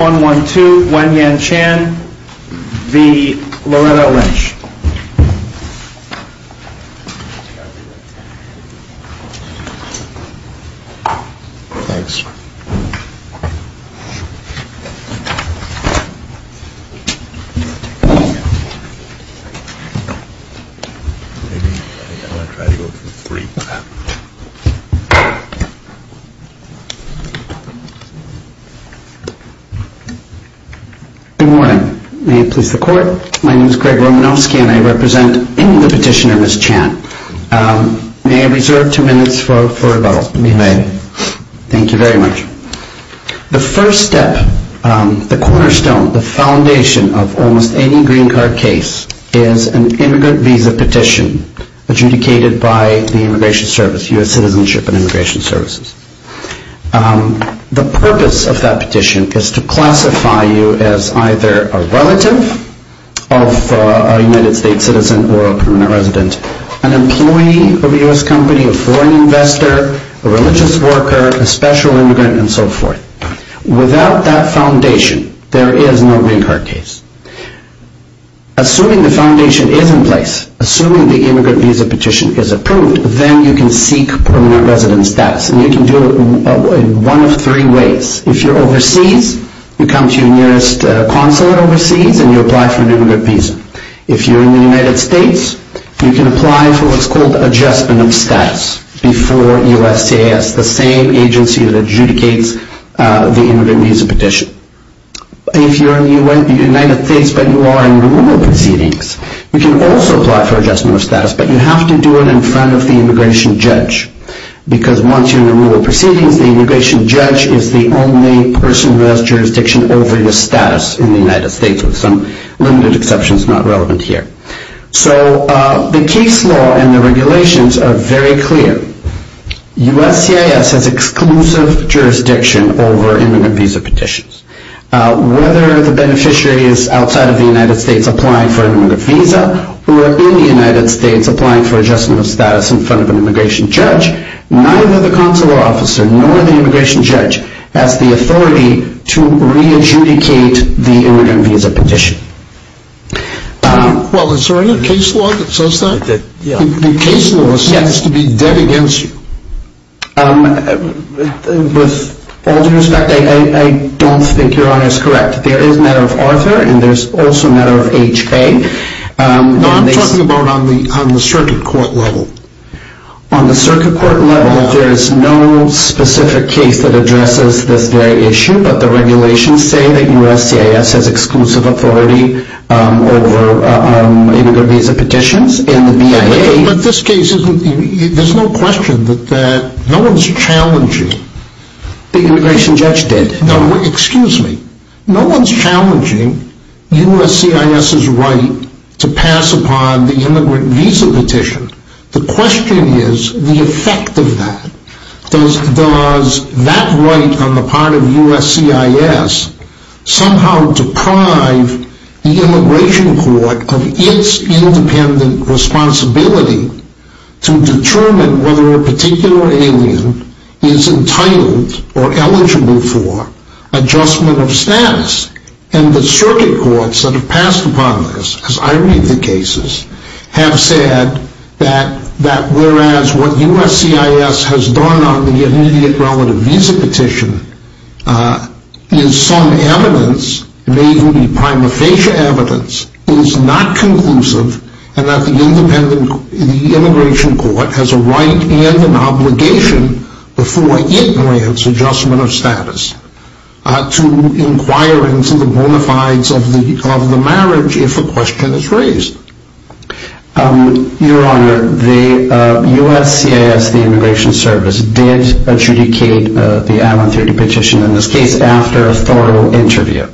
1-1-2, Guan Yan Chan v. Loretta Lynch Good morning. May it please the court, my name is Greg Romanofsky and I represent the petitioner Ms. Chan. May I reserve two minutes for rebuttal? The first step, the cornerstone, the foundation of almost any green card case is an immigrant visa petition adjudicated by the immigration service, U.S. Citizenship and Immigration Services. The purpose of that petition is to classify you as either a relative of a U.S. citizen or a permanent resident, an employee of a U.S. company, a foreign investor, a religious worker, a special immigrant, and so forth. Without that foundation, there is no green card case. Assuming the foundation is in place, assuming the immigrant visa petition is approved, then you can seek permanent resident status and you can get a green card. You can do it in one of three ways. If you're overseas, you come to your nearest consulate overseas and you apply for an immigrant visa. If you're in the United States, you can apply for what's called adjustment of status before USCIS, the same agency that adjudicates the immigrant visa petition. If you're in the United States but you are in rural proceedings, you can also apply for adjustment of status, but you have to do it in front of the immigration judge. Because once you're in the rural proceedings, the immigration judge is the only person who has jurisdiction over your status in the United States, with some limited exceptions not relevant here. So the case law and the regulations are very clear. USCIS has exclusive jurisdiction over immigrant visa petitions. Whether the beneficiary is outside of the United States applying for an immigrant visa or in the United States applying for adjustment of status in front of an immigration judge, neither the consular officer nor the immigration judge has the authority to re-adjudicate the immigrant visa petition. Well, is there any case law that says that? The case law seems to be dead against you. With all due respect, I don't think Your Honor is correct. There is a matter of Arthur and there's also a matter of H.A. No, I'm talking about on the circuit court level. On the circuit court level, there is no specific case that addresses this very issue, but the regulations say that USCIS has exclusive authority over immigrant visa petitions and the BIA... But this case, there's no question that no one's challenging... The immigration judge did. No, excuse me. No one's challenging USCIS's right to pass upon the immigrant visa petition. The question is the effect of that. Does that right on the part of USCIS somehow deprive the immigration court of its independent responsibility to determine whether a particular alien is entitled or eligible for adjustment of status? And the circuit courts that have passed upon this, as I read the cases, have said that whereas what USCIS has done on the immediate relative visa petition is some evidence, may even be prima facie evidence, is not conclusive and that the immigration court has a right and an obligation before it grants adjustment of status to inquire into the bona fides of the marriage if a question is raised. Your Honor, the USCIS, the immigration service, did adjudicate the Avalon 30 petition in this case after a thorough interview.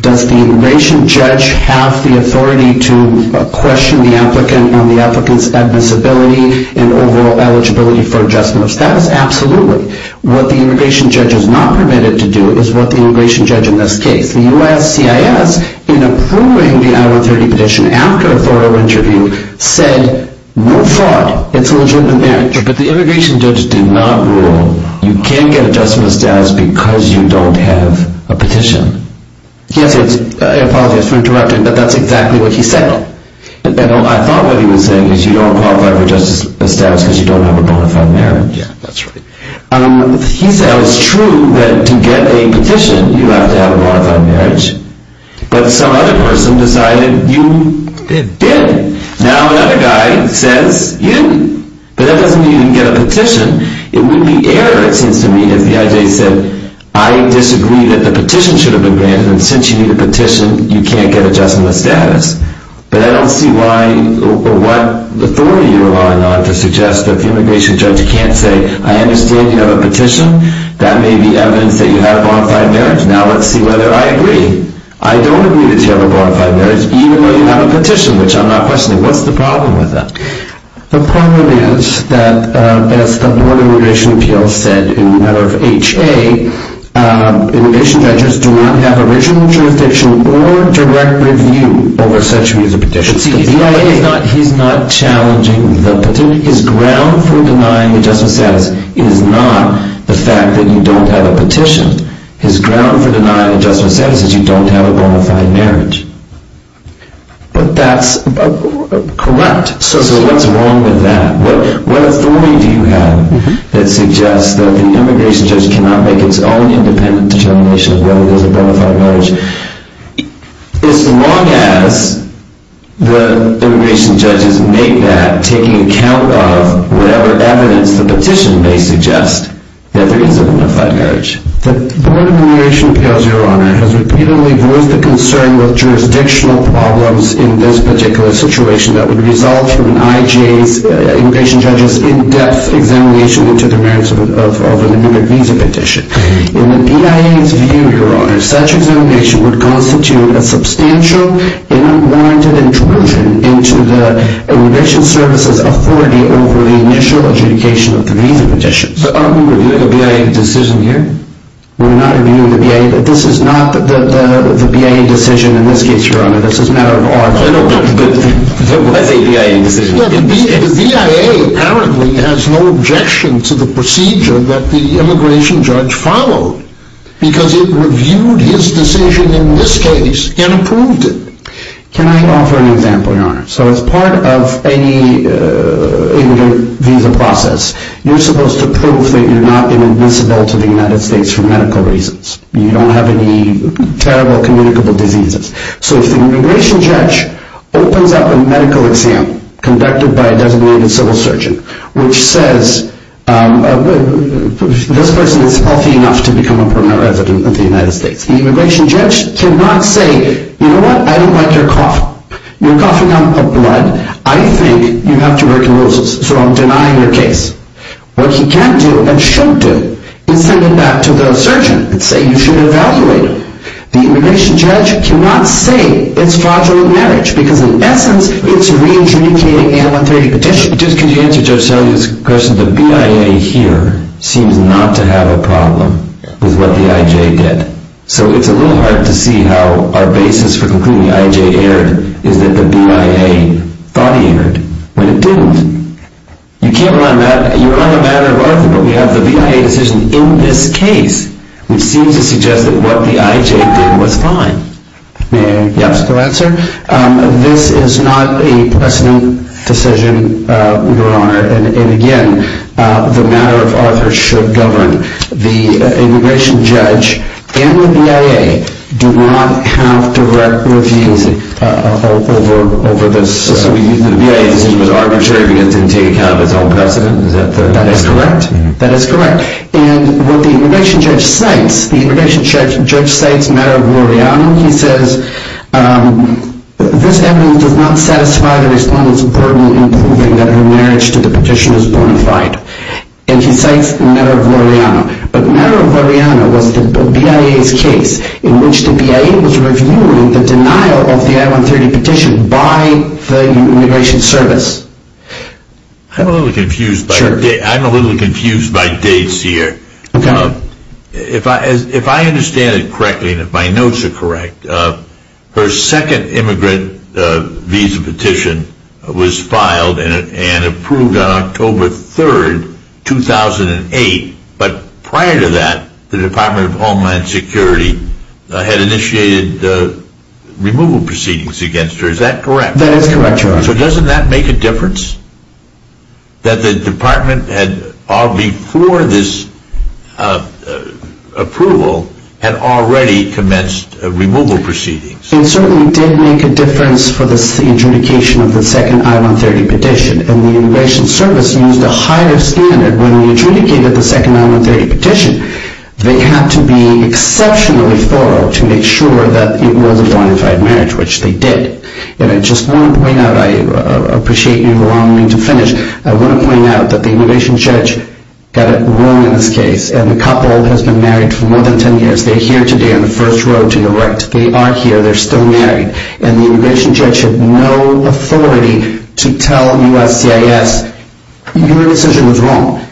Does the immigration judge have the authority to question the applicant on the applicant's admissibility and overall eligibility for adjustment of status? Absolutely. What the immigration judge is not permitted to do is what the immigration judge in this case. The USCIS, in approving the Avalon 30 petition after a thorough interview, said, no fraud, it's a legitimate marriage, but the immigration judge did not rule you can't get adjustment of status because you don't have a petition. Yes, I apologize for interrupting, but that's exactly what he said. I thought what he was saying is you don't qualify for adjustment of status because you don't have a bona fide marriage. Yeah, that's right. He said it was true that to get a petition you have to have a bona fide marriage, but some other person decided you didn't. Now another guy says you didn't, but that doesn't mean you didn't get a petition. It would be error, it seems to me, if the IJ said I disagree that the petition should have been granted and since you need a petition you can't get adjustment of status. But I don't see why or what authority you're relying on to suggest that the immigration judge can't say I understand you have a petition, that may be evidence that you have a bona fide marriage. Now let's see whether I agree. I don't agree that you have a bona fide marriage even though you have a petition, which I'm not questioning. What's the problem with that? The problem is that as the Board of Immigration Appeals said in the matter of HA, immigration judges do not have original jurisdiction or direct review over such a petition. He's not challenging the petition. His ground for denying adjustment of status is not the fact that you don't have a petition. His ground for denying adjustment of status is you don't have a bona fide marriage. But that's correct. So what's wrong with that? What authority do you have that suggests that the immigration judge cannot make its own independent determination of whether there's a bona fide marriage as long as the immigration judges make that taking account of whatever evidence the petition may suggest that there is a bona fide marriage? The Board of Immigration Appeals, Your Honor, has repeatedly voiced a concern with jurisdictional problems in this particular situation that would result from an IJA's immigration judge's in-depth examination into the merits of an immigrant visa petition. In the BIA's view, Your Honor, such examination would constitute a substantial and unwarranted intrusion into the immigration service's authority over the initial adjudication of the visa petition. Are we reviewing a BIA decision here? This is not the BIA decision in this case, Your Honor. The BIA apparently has no objection to the procedure that the immigration judge followed because it reviewed his decision in this case and approved it. Can I offer an example, Your Honor? So as part of any immigrant visa process, you're supposed to prove that you're not inadmissible to the United States for medical reasons. You don't have any terrible communicable diseases. So if the immigration judge opens up a medical exam conducted by a designated civil surgeon which says this person is healthy enough to become a permanent resident of the United States, the immigration judge cannot say, you know what, I don't like your cough. You're coughing up blood. I think you have tuberculosis, so I'm denying your case. What he can do and should do is send it back to the surgeon and say you should evaluate it. The immigration judge cannot say it's fraudulent marriage because in essence it's re-adjudicating an unauthorized petition. Just could you answer Judge Seligman's question? The BIA here seems not to have a problem with what the IJ did. So it's a little hard to see how our basis for concluding the IJ erred is that the BIA thought he erred when it didn't. You're on a matter of argument. We have the BIA decision in this case which seems to suggest that what the IJ did was fine. This is not a precedent decision, Your Honor. And again, the matter of author should govern. The immigration judge and the BIA do not have direct reviews over this. So the BIA decision was arbitrary because it didn't take account of its own precedent? That is correct. And what the immigration judge cites, the immigration judge cites a matter of Loreanna. He says this evidence does not satisfy the respondent's burden in proving that her marriage to the petition is bona fide. And he cites a matter of Loreanna. But the matter of Loreanna was the BIA's case in which the BIA was reviewing the denial of the I-130 petition by the immigration service. I'm a little confused by dates here. If I understand it correctly and if my notes are correct, her second immigrant visa petition was filed and approved on October 3rd, 2008. But prior to that, the Department of Homeland Security had initiated the removal proceedings against her. Is that correct? That is correct, Your Honor. So doesn't that make a difference that the Department had, before this approval, had already commenced removal proceedings? It certainly did make a difference for the interdication of the second I-130 petition. And the immigration service used a higher standard when they interdicated the second I-130 petition. They had to be exceptionally thorough to make sure that it was a bona fide marriage, which they did. And I just want to point out, I appreciate you allowing me to finish, I want to point out that the immigration judge got it wrong in this case. And the couple has been married for more than 10 years. They're here today on the first row to your right. They are here. They're still married. And the immigration judge had no authority to tell USCIS, your decision was wrong.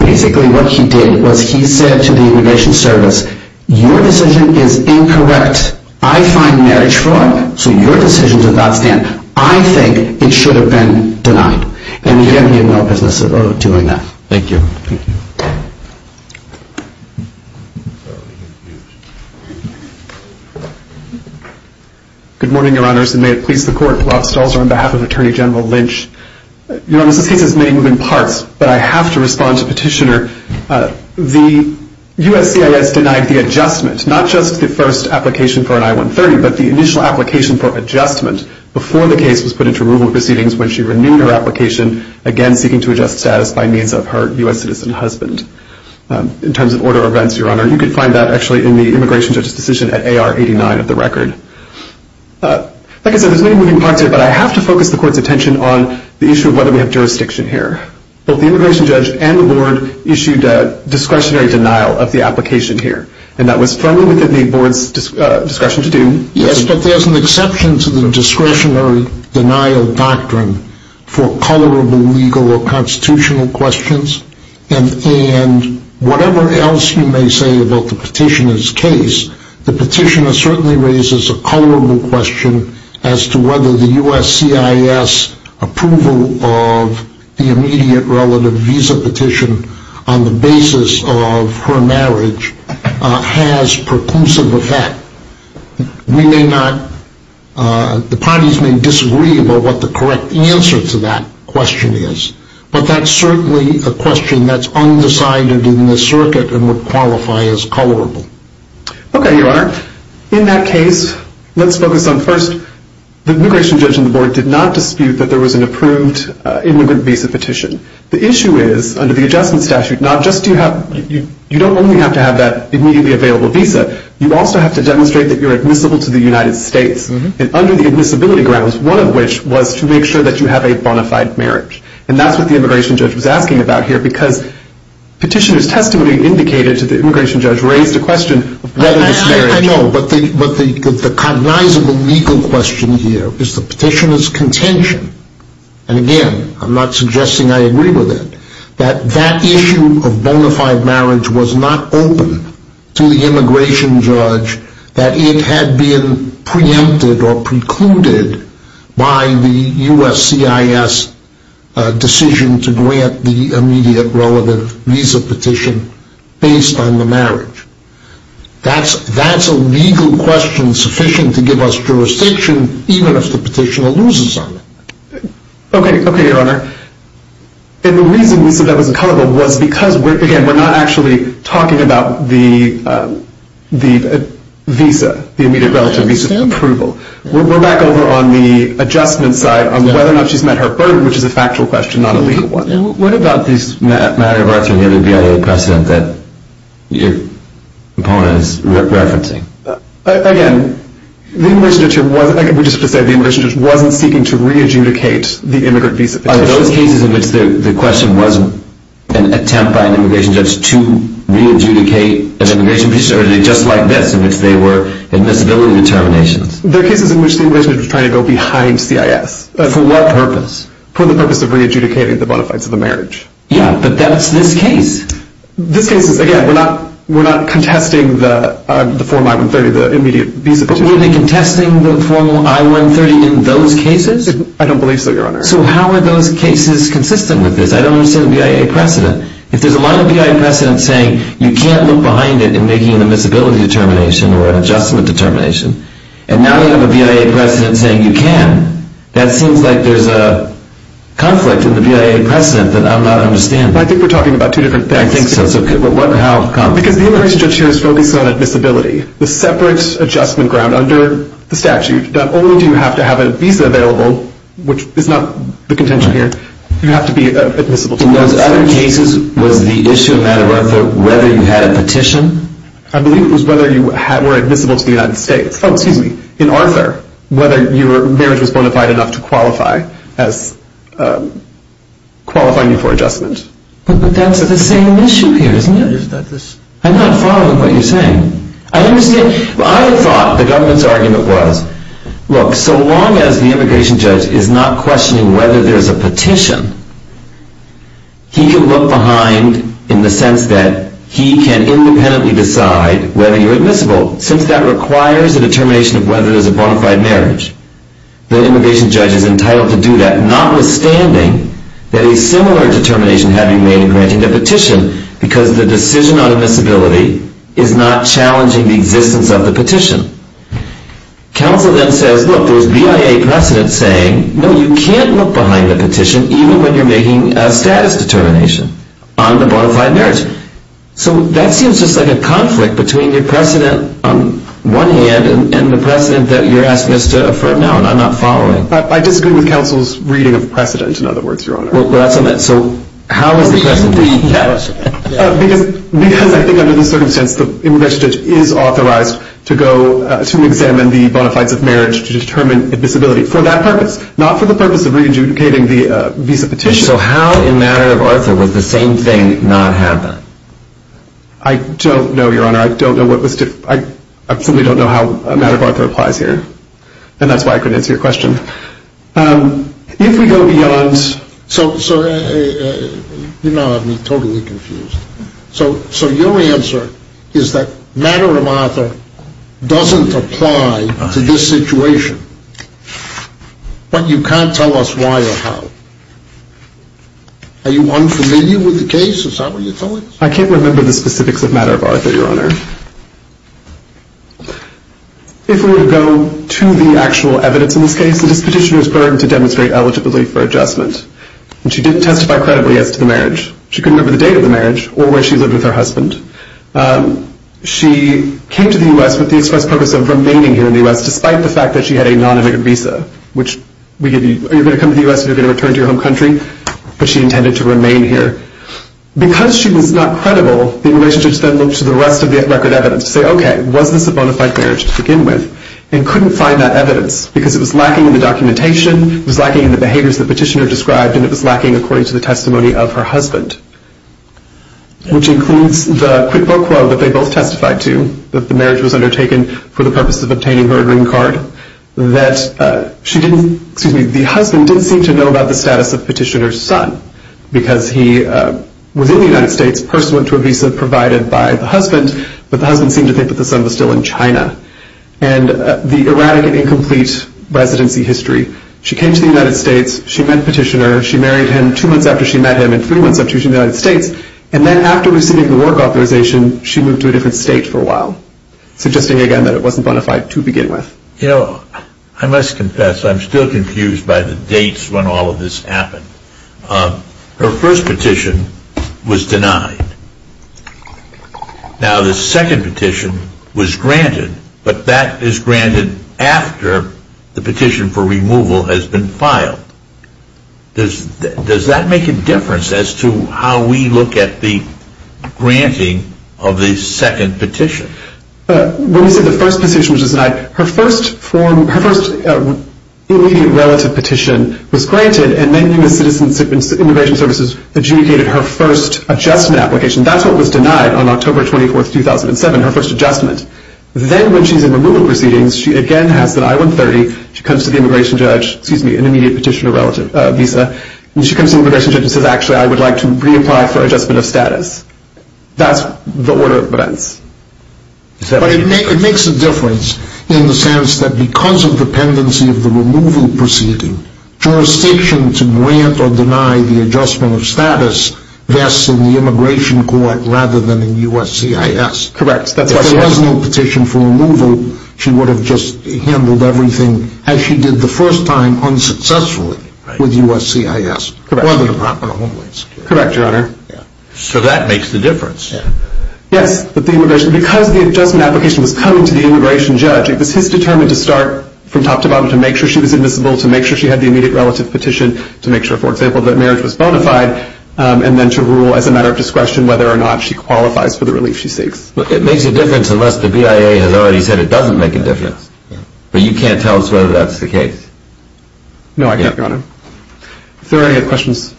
Basically what he did was he said to the immigration service, your decision is incorrect. I find marriage fraud, so your decision does not stand. I think it should have been denied. And we have no business doing that. Thank you. Good morning, Your Honors, and may it please the Court, Rob Stolzer on behalf of Attorney General Lynch. Your Honor, this case has many moving parts, but I have to respond to Petitioner. The USCIS denied the adjustment, not just the first application for an I-130, but the initial application for adjustment before the case was put into removal proceedings when she renewed her application, again seeking to adjust status by means of her U.S. citizen husband. In terms of order of events, Your Honor, you can find that actually in the immigration judge's decision at AR 89 of the record. Like I said, there's many moving parts here, but I have to focus the Court's attention on the issue of whether we have jurisdiction here. Both the immigration judge and the Board issued a discretionary denial of the application here, and that was firmly within the Board's discretion to do. Yes, but there's an exception to the discretionary denial doctrine for colorable legal or constitutional questions, and whatever else you may say about the Petitioner's case, the Petitioner certainly raises a colorable question as to whether the USCIS approval of the immediate relative visa petition on the basis of her marriage has percussive effect. The parties may disagree about what the correct answer to that question is, but that's certainly a question that's undecided in the circuit and would qualify as colorable. Okay, Your Honor. In that case, let's focus on first, the immigration judge and the Board did not dispute that there was an approved immigrant visa petition. The issue is, under the Adjustment Statute, you don't only have to have that immediately available visa, you also have to demonstrate that you're admissible to the United States, and under the admissibility grounds, one of which was to make sure that you have a bona fide marriage. And that's what the immigration judge was asking about here, because Petitioner's testimony indicated to the immigration judge raised a question of whether this marriage I know, but the cognizable legal question here is the Petitioner's contention, and again, I'm not suggesting I agree with it, that that issue of bona fide marriage was not open to the immigration judge, that it had been preempted or precluded by the USCIS decision to grant the immediate relative visa petition based on the marriage. That's a legal question sufficient to give us jurisdiction, even if the Petitioner loses on it. Okay, Your Honor. And the reason that was colorable was because, again, we're not actually talking about the visa, the immediate relative visa approval. We're back over on the adjustment side on whether or not she's met her burden, which is a factual question, not a legal one. What about this matter of rights from the other BIA precedent that your opponent is referencing? Again, the immigration judge wasn't seeking to re-adjudicate the immigrant visa petition. Are those cases in which the question wasn't an attempt by an immigration judge to re-adjudicate an immigration petition or did it just like this in which they were admissibility determinations? They're cases in which the immigration judge was trying to go behind CIS. For what purpose? For the purpose of re-adjudicating the bona fides of the marriage. Yeah, but that's this case. This case is, again, we're not contesting the Form I-130, the immediate visa petition. Were they contesting the Form I-130 in those cases? I don't believe so, Your Honor. So how are those cases consistent with this? I don't understand the BIA precedent. If there's a line of BIA precedent saying you can't look behind it in making an admissibility determination or an adjustment determination, and now you have a BIA precedent saying you can, that seems like there's a conflict in the BIA precedent that I'm not understanding. I think we're talking about two different things. I think so. Because the immigration judge here is focused on admissibility, the separate adjustment ground under the statute. Not only do you have to have a visa available, which is not the contention here, you have to be admissible to the United States. In those other cases, was the issue a matter of whether you had a petition? I believe it was whether you were admissible to the United States. Oh, excuse me. In Arthur, whether your marriage was bona fide enough to qualify as qualifying you for adjustment. But that's the same issue here, isn't it? I'm not following what you're saying. I understand. I thought the government's argument was, Look, so long as the immigration judge is not questioning whether there's a petition, he can look behind in the sense that he can independently decide whether you're admissible. Since that requires a determination of whether there's a bona fide marriage, the immigration judge is entitled to do that, notwithstanding that a similar determination had to be made in granting the petition because the decision on admissibility is not challenging the existence of the petition. Counsel then says, Look, there's BIA precedent saying, No, you can't look behind the petition even when you're making a status determination on the bona fide marriage. So that seems just like a conflict between your precedent on one hand and the precedent that you're asking us to affirm now, and I'm not following. I disagree with counsel's reading of precedent, in other words, Your Honor. Well, that's on that. So how is the precedent being challenged? Because I think under the circumstance, the immigration judge is authorized to examine the bona fides of marriage to determine admissibility for that purpose, not for the purpose of re-adjudicating the visa petition. So how in a matter of Arthur would the same thing not happen? I don't know, Your Honor. I simply don't know how a matter of Arthur applies here, and that's why I couldn't answer your question. If we go beyond... So you now have me totally confused. So your answer is that matter of Arthur doesn't apply to this situation, but you can't tell us why or how. Are you unfamiliar with the case? Is that what you're telling us? I can't remember the specifics of matter of Arthur, Your Honor. If we were to go to the actual evidence in this case, the petitioner was burdened to demonstrate eligibility for adjustment, and she didn't testify credibly as to the marriage. She couldn't remember the date of the marriage or where she lived with her husband. She came to the U.S. with the express purpose of remaining here in the U.S. despite the fact that she had a non-immigrant visa, which we give you. You're going to come to the U.S. and you're going to return to your home country, but she intended to remain here. Because she was not credible, the immigration judge then looked to the rest of the record evidence to say, okay, was this a bona fide marriage to begin with? And couldn't find that evidence because it was lacking in the documentation, it was lacking in the behaviors the petitioner described, and it was lacking according to the testimony of her husband, which includes the quid pro quo that they both testified to, that the marriage was undertaken for the purpose of obtaining her green card, that the husband didn't seem to know about the status of petitioner's son because he was in the United States, personally to a visa provided by the husband, but the husband seemed to think that the son was still in China. And the erratic and incomplete residency history, she came to the United States, she met the petitioner, she married him two months after she met him and three months after she was in the United States, and then after receiving the work authorization, she moved to a different state for a while, suggesting again that it wasn't bona fide to begin with. You know, I must confess, I'm still confused by the dates when all of this happened. Her first petition was denied. Now, the second petition was granted, but that is granted after the petition for removal has been filed. Does that make a difference as to how we look at the granting of the second petition? When you say the first petition was denied, her first immediate relative petition was granted, and then U.S. Citizenship and Immigration Services adjudicated her first adjustment application. That's what was denied on October 24, 2007, her first adjustment. Then when she's in removal proceedings, she again has that I-130, she comes to the immigration judge, excuse me, an immediate petitioner relative visa, and she comes to the immigration judge and says, actually, I would like to reapply for adjustment of status. That's the order of events. But it makes a difference in the sense that because of dependency of the removal proceeding, jurisdiction to grant or deny the adjustment of status rests in the immigration court rather than in USCIS. Correct. If there was no petition for removal, she would have just handled everything as she did the first time, unsuccessfully, with USCIS. Correct, Your Honor. So that makes the difference. Yes. Because the adjustment application was coming to the immigration judge, it was his determine to start from top to bottom to make sure she was admissible, to make sure she had the immediate relative petition, to make sure, for example, that marriage was bona fide, and then to rule as a matter of discretion whether or not she qualifies for the relief she seeks. It makes a difference unless the BIA has already said it doesn't make a difference. But you can't tell us whether that's the case. No, I can't, Your Honor. If there are any other questions,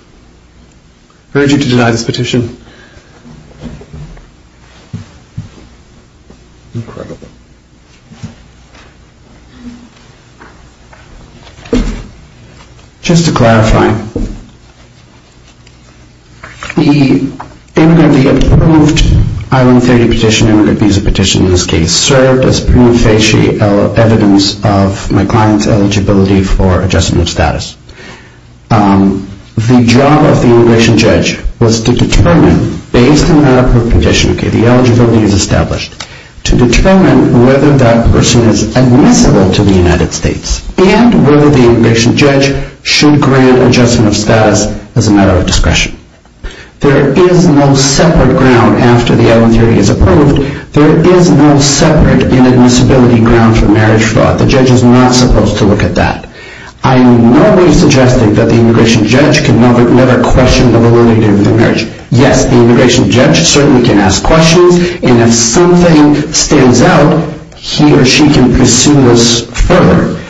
I urge you to deny this petition. Incredible. Just to clarify, the immigrant, the approved Island 30 petition, immigrant visa petition in this case, served as prima facie evidence of my client's eligibility for adjustment of status. The job of the immigration judge was to determine, based on that approved condition, the eligibility is established, to determine whether that person is admissible to the United States and whether the immigration judge should grant adjustment of status as a matter of discretion. There is no separate ground after the Island 30 is approved, there is no separate inadmissibility ground for marriage fraud. The judge is not supposed to look at that. I'm normally suggesting that the immigration judge can never question the validity of the marriage. Yes, the immigration judge certainly can ask questions, and if something stands out, he or she can pursue this further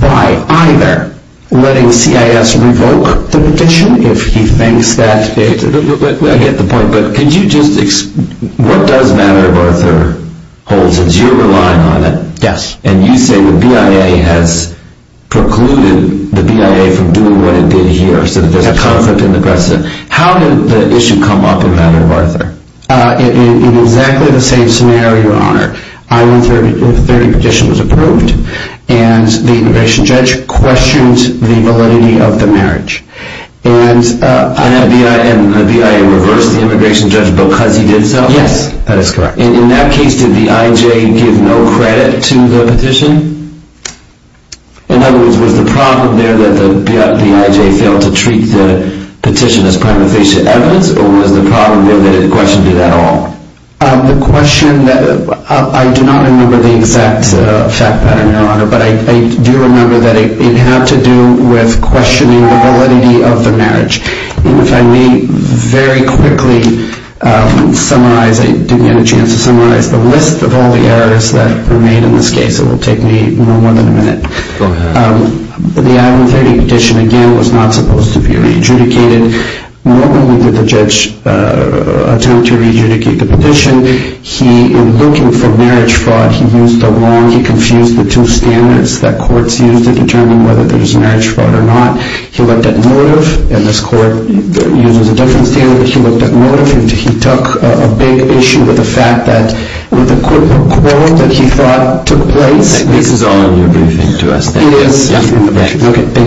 by either letting CIS revoke the petition, if he thinks that... I get the point, but could you just explain... What does Matter of Arthur hold, since you're relying on it, and you say the BIA has precluded the BIA from doing what it did here, so that there's a conflict in the precedent. How did the issue come up in Matter of Arthur? In exactly the same scenario, Your Honor. Island 30 petition was approved, and the immigration judge questioned the validity of the marriage. And the BIA reversed the immigration judge because he did so? Yes, that is correct. In that case, did the IJ give no credit to the petition? In other words, was the problem there that the IJ failed to treat the petition as prima facie evidence, or was the problem there that it questioned it at all? The question that... I do not remember the exact fact pattern, Your Honor, but I do remember that it had to do with questioning the validity of the marriage. And if I may very quickly summarize... I didn't get a chance to summarize the list of all the errors that were made in this case. It will take me no more than a minute. Go ahead. The Island 30 petition, again, was not supposed to be re-adjudicated. Normally did the judge attempt to re-adjudicate the petition. He, in looking for marriage fraud, he used the wrong... the standards that courts use to determine whether there is marriage fraud or not. He looked at motive, and this court uses a different standard. He looked at motive, and he took a big issue with the fact that... with the quote that he thought took place... This is all in your briefing to us. It is. Okay, thank you very much.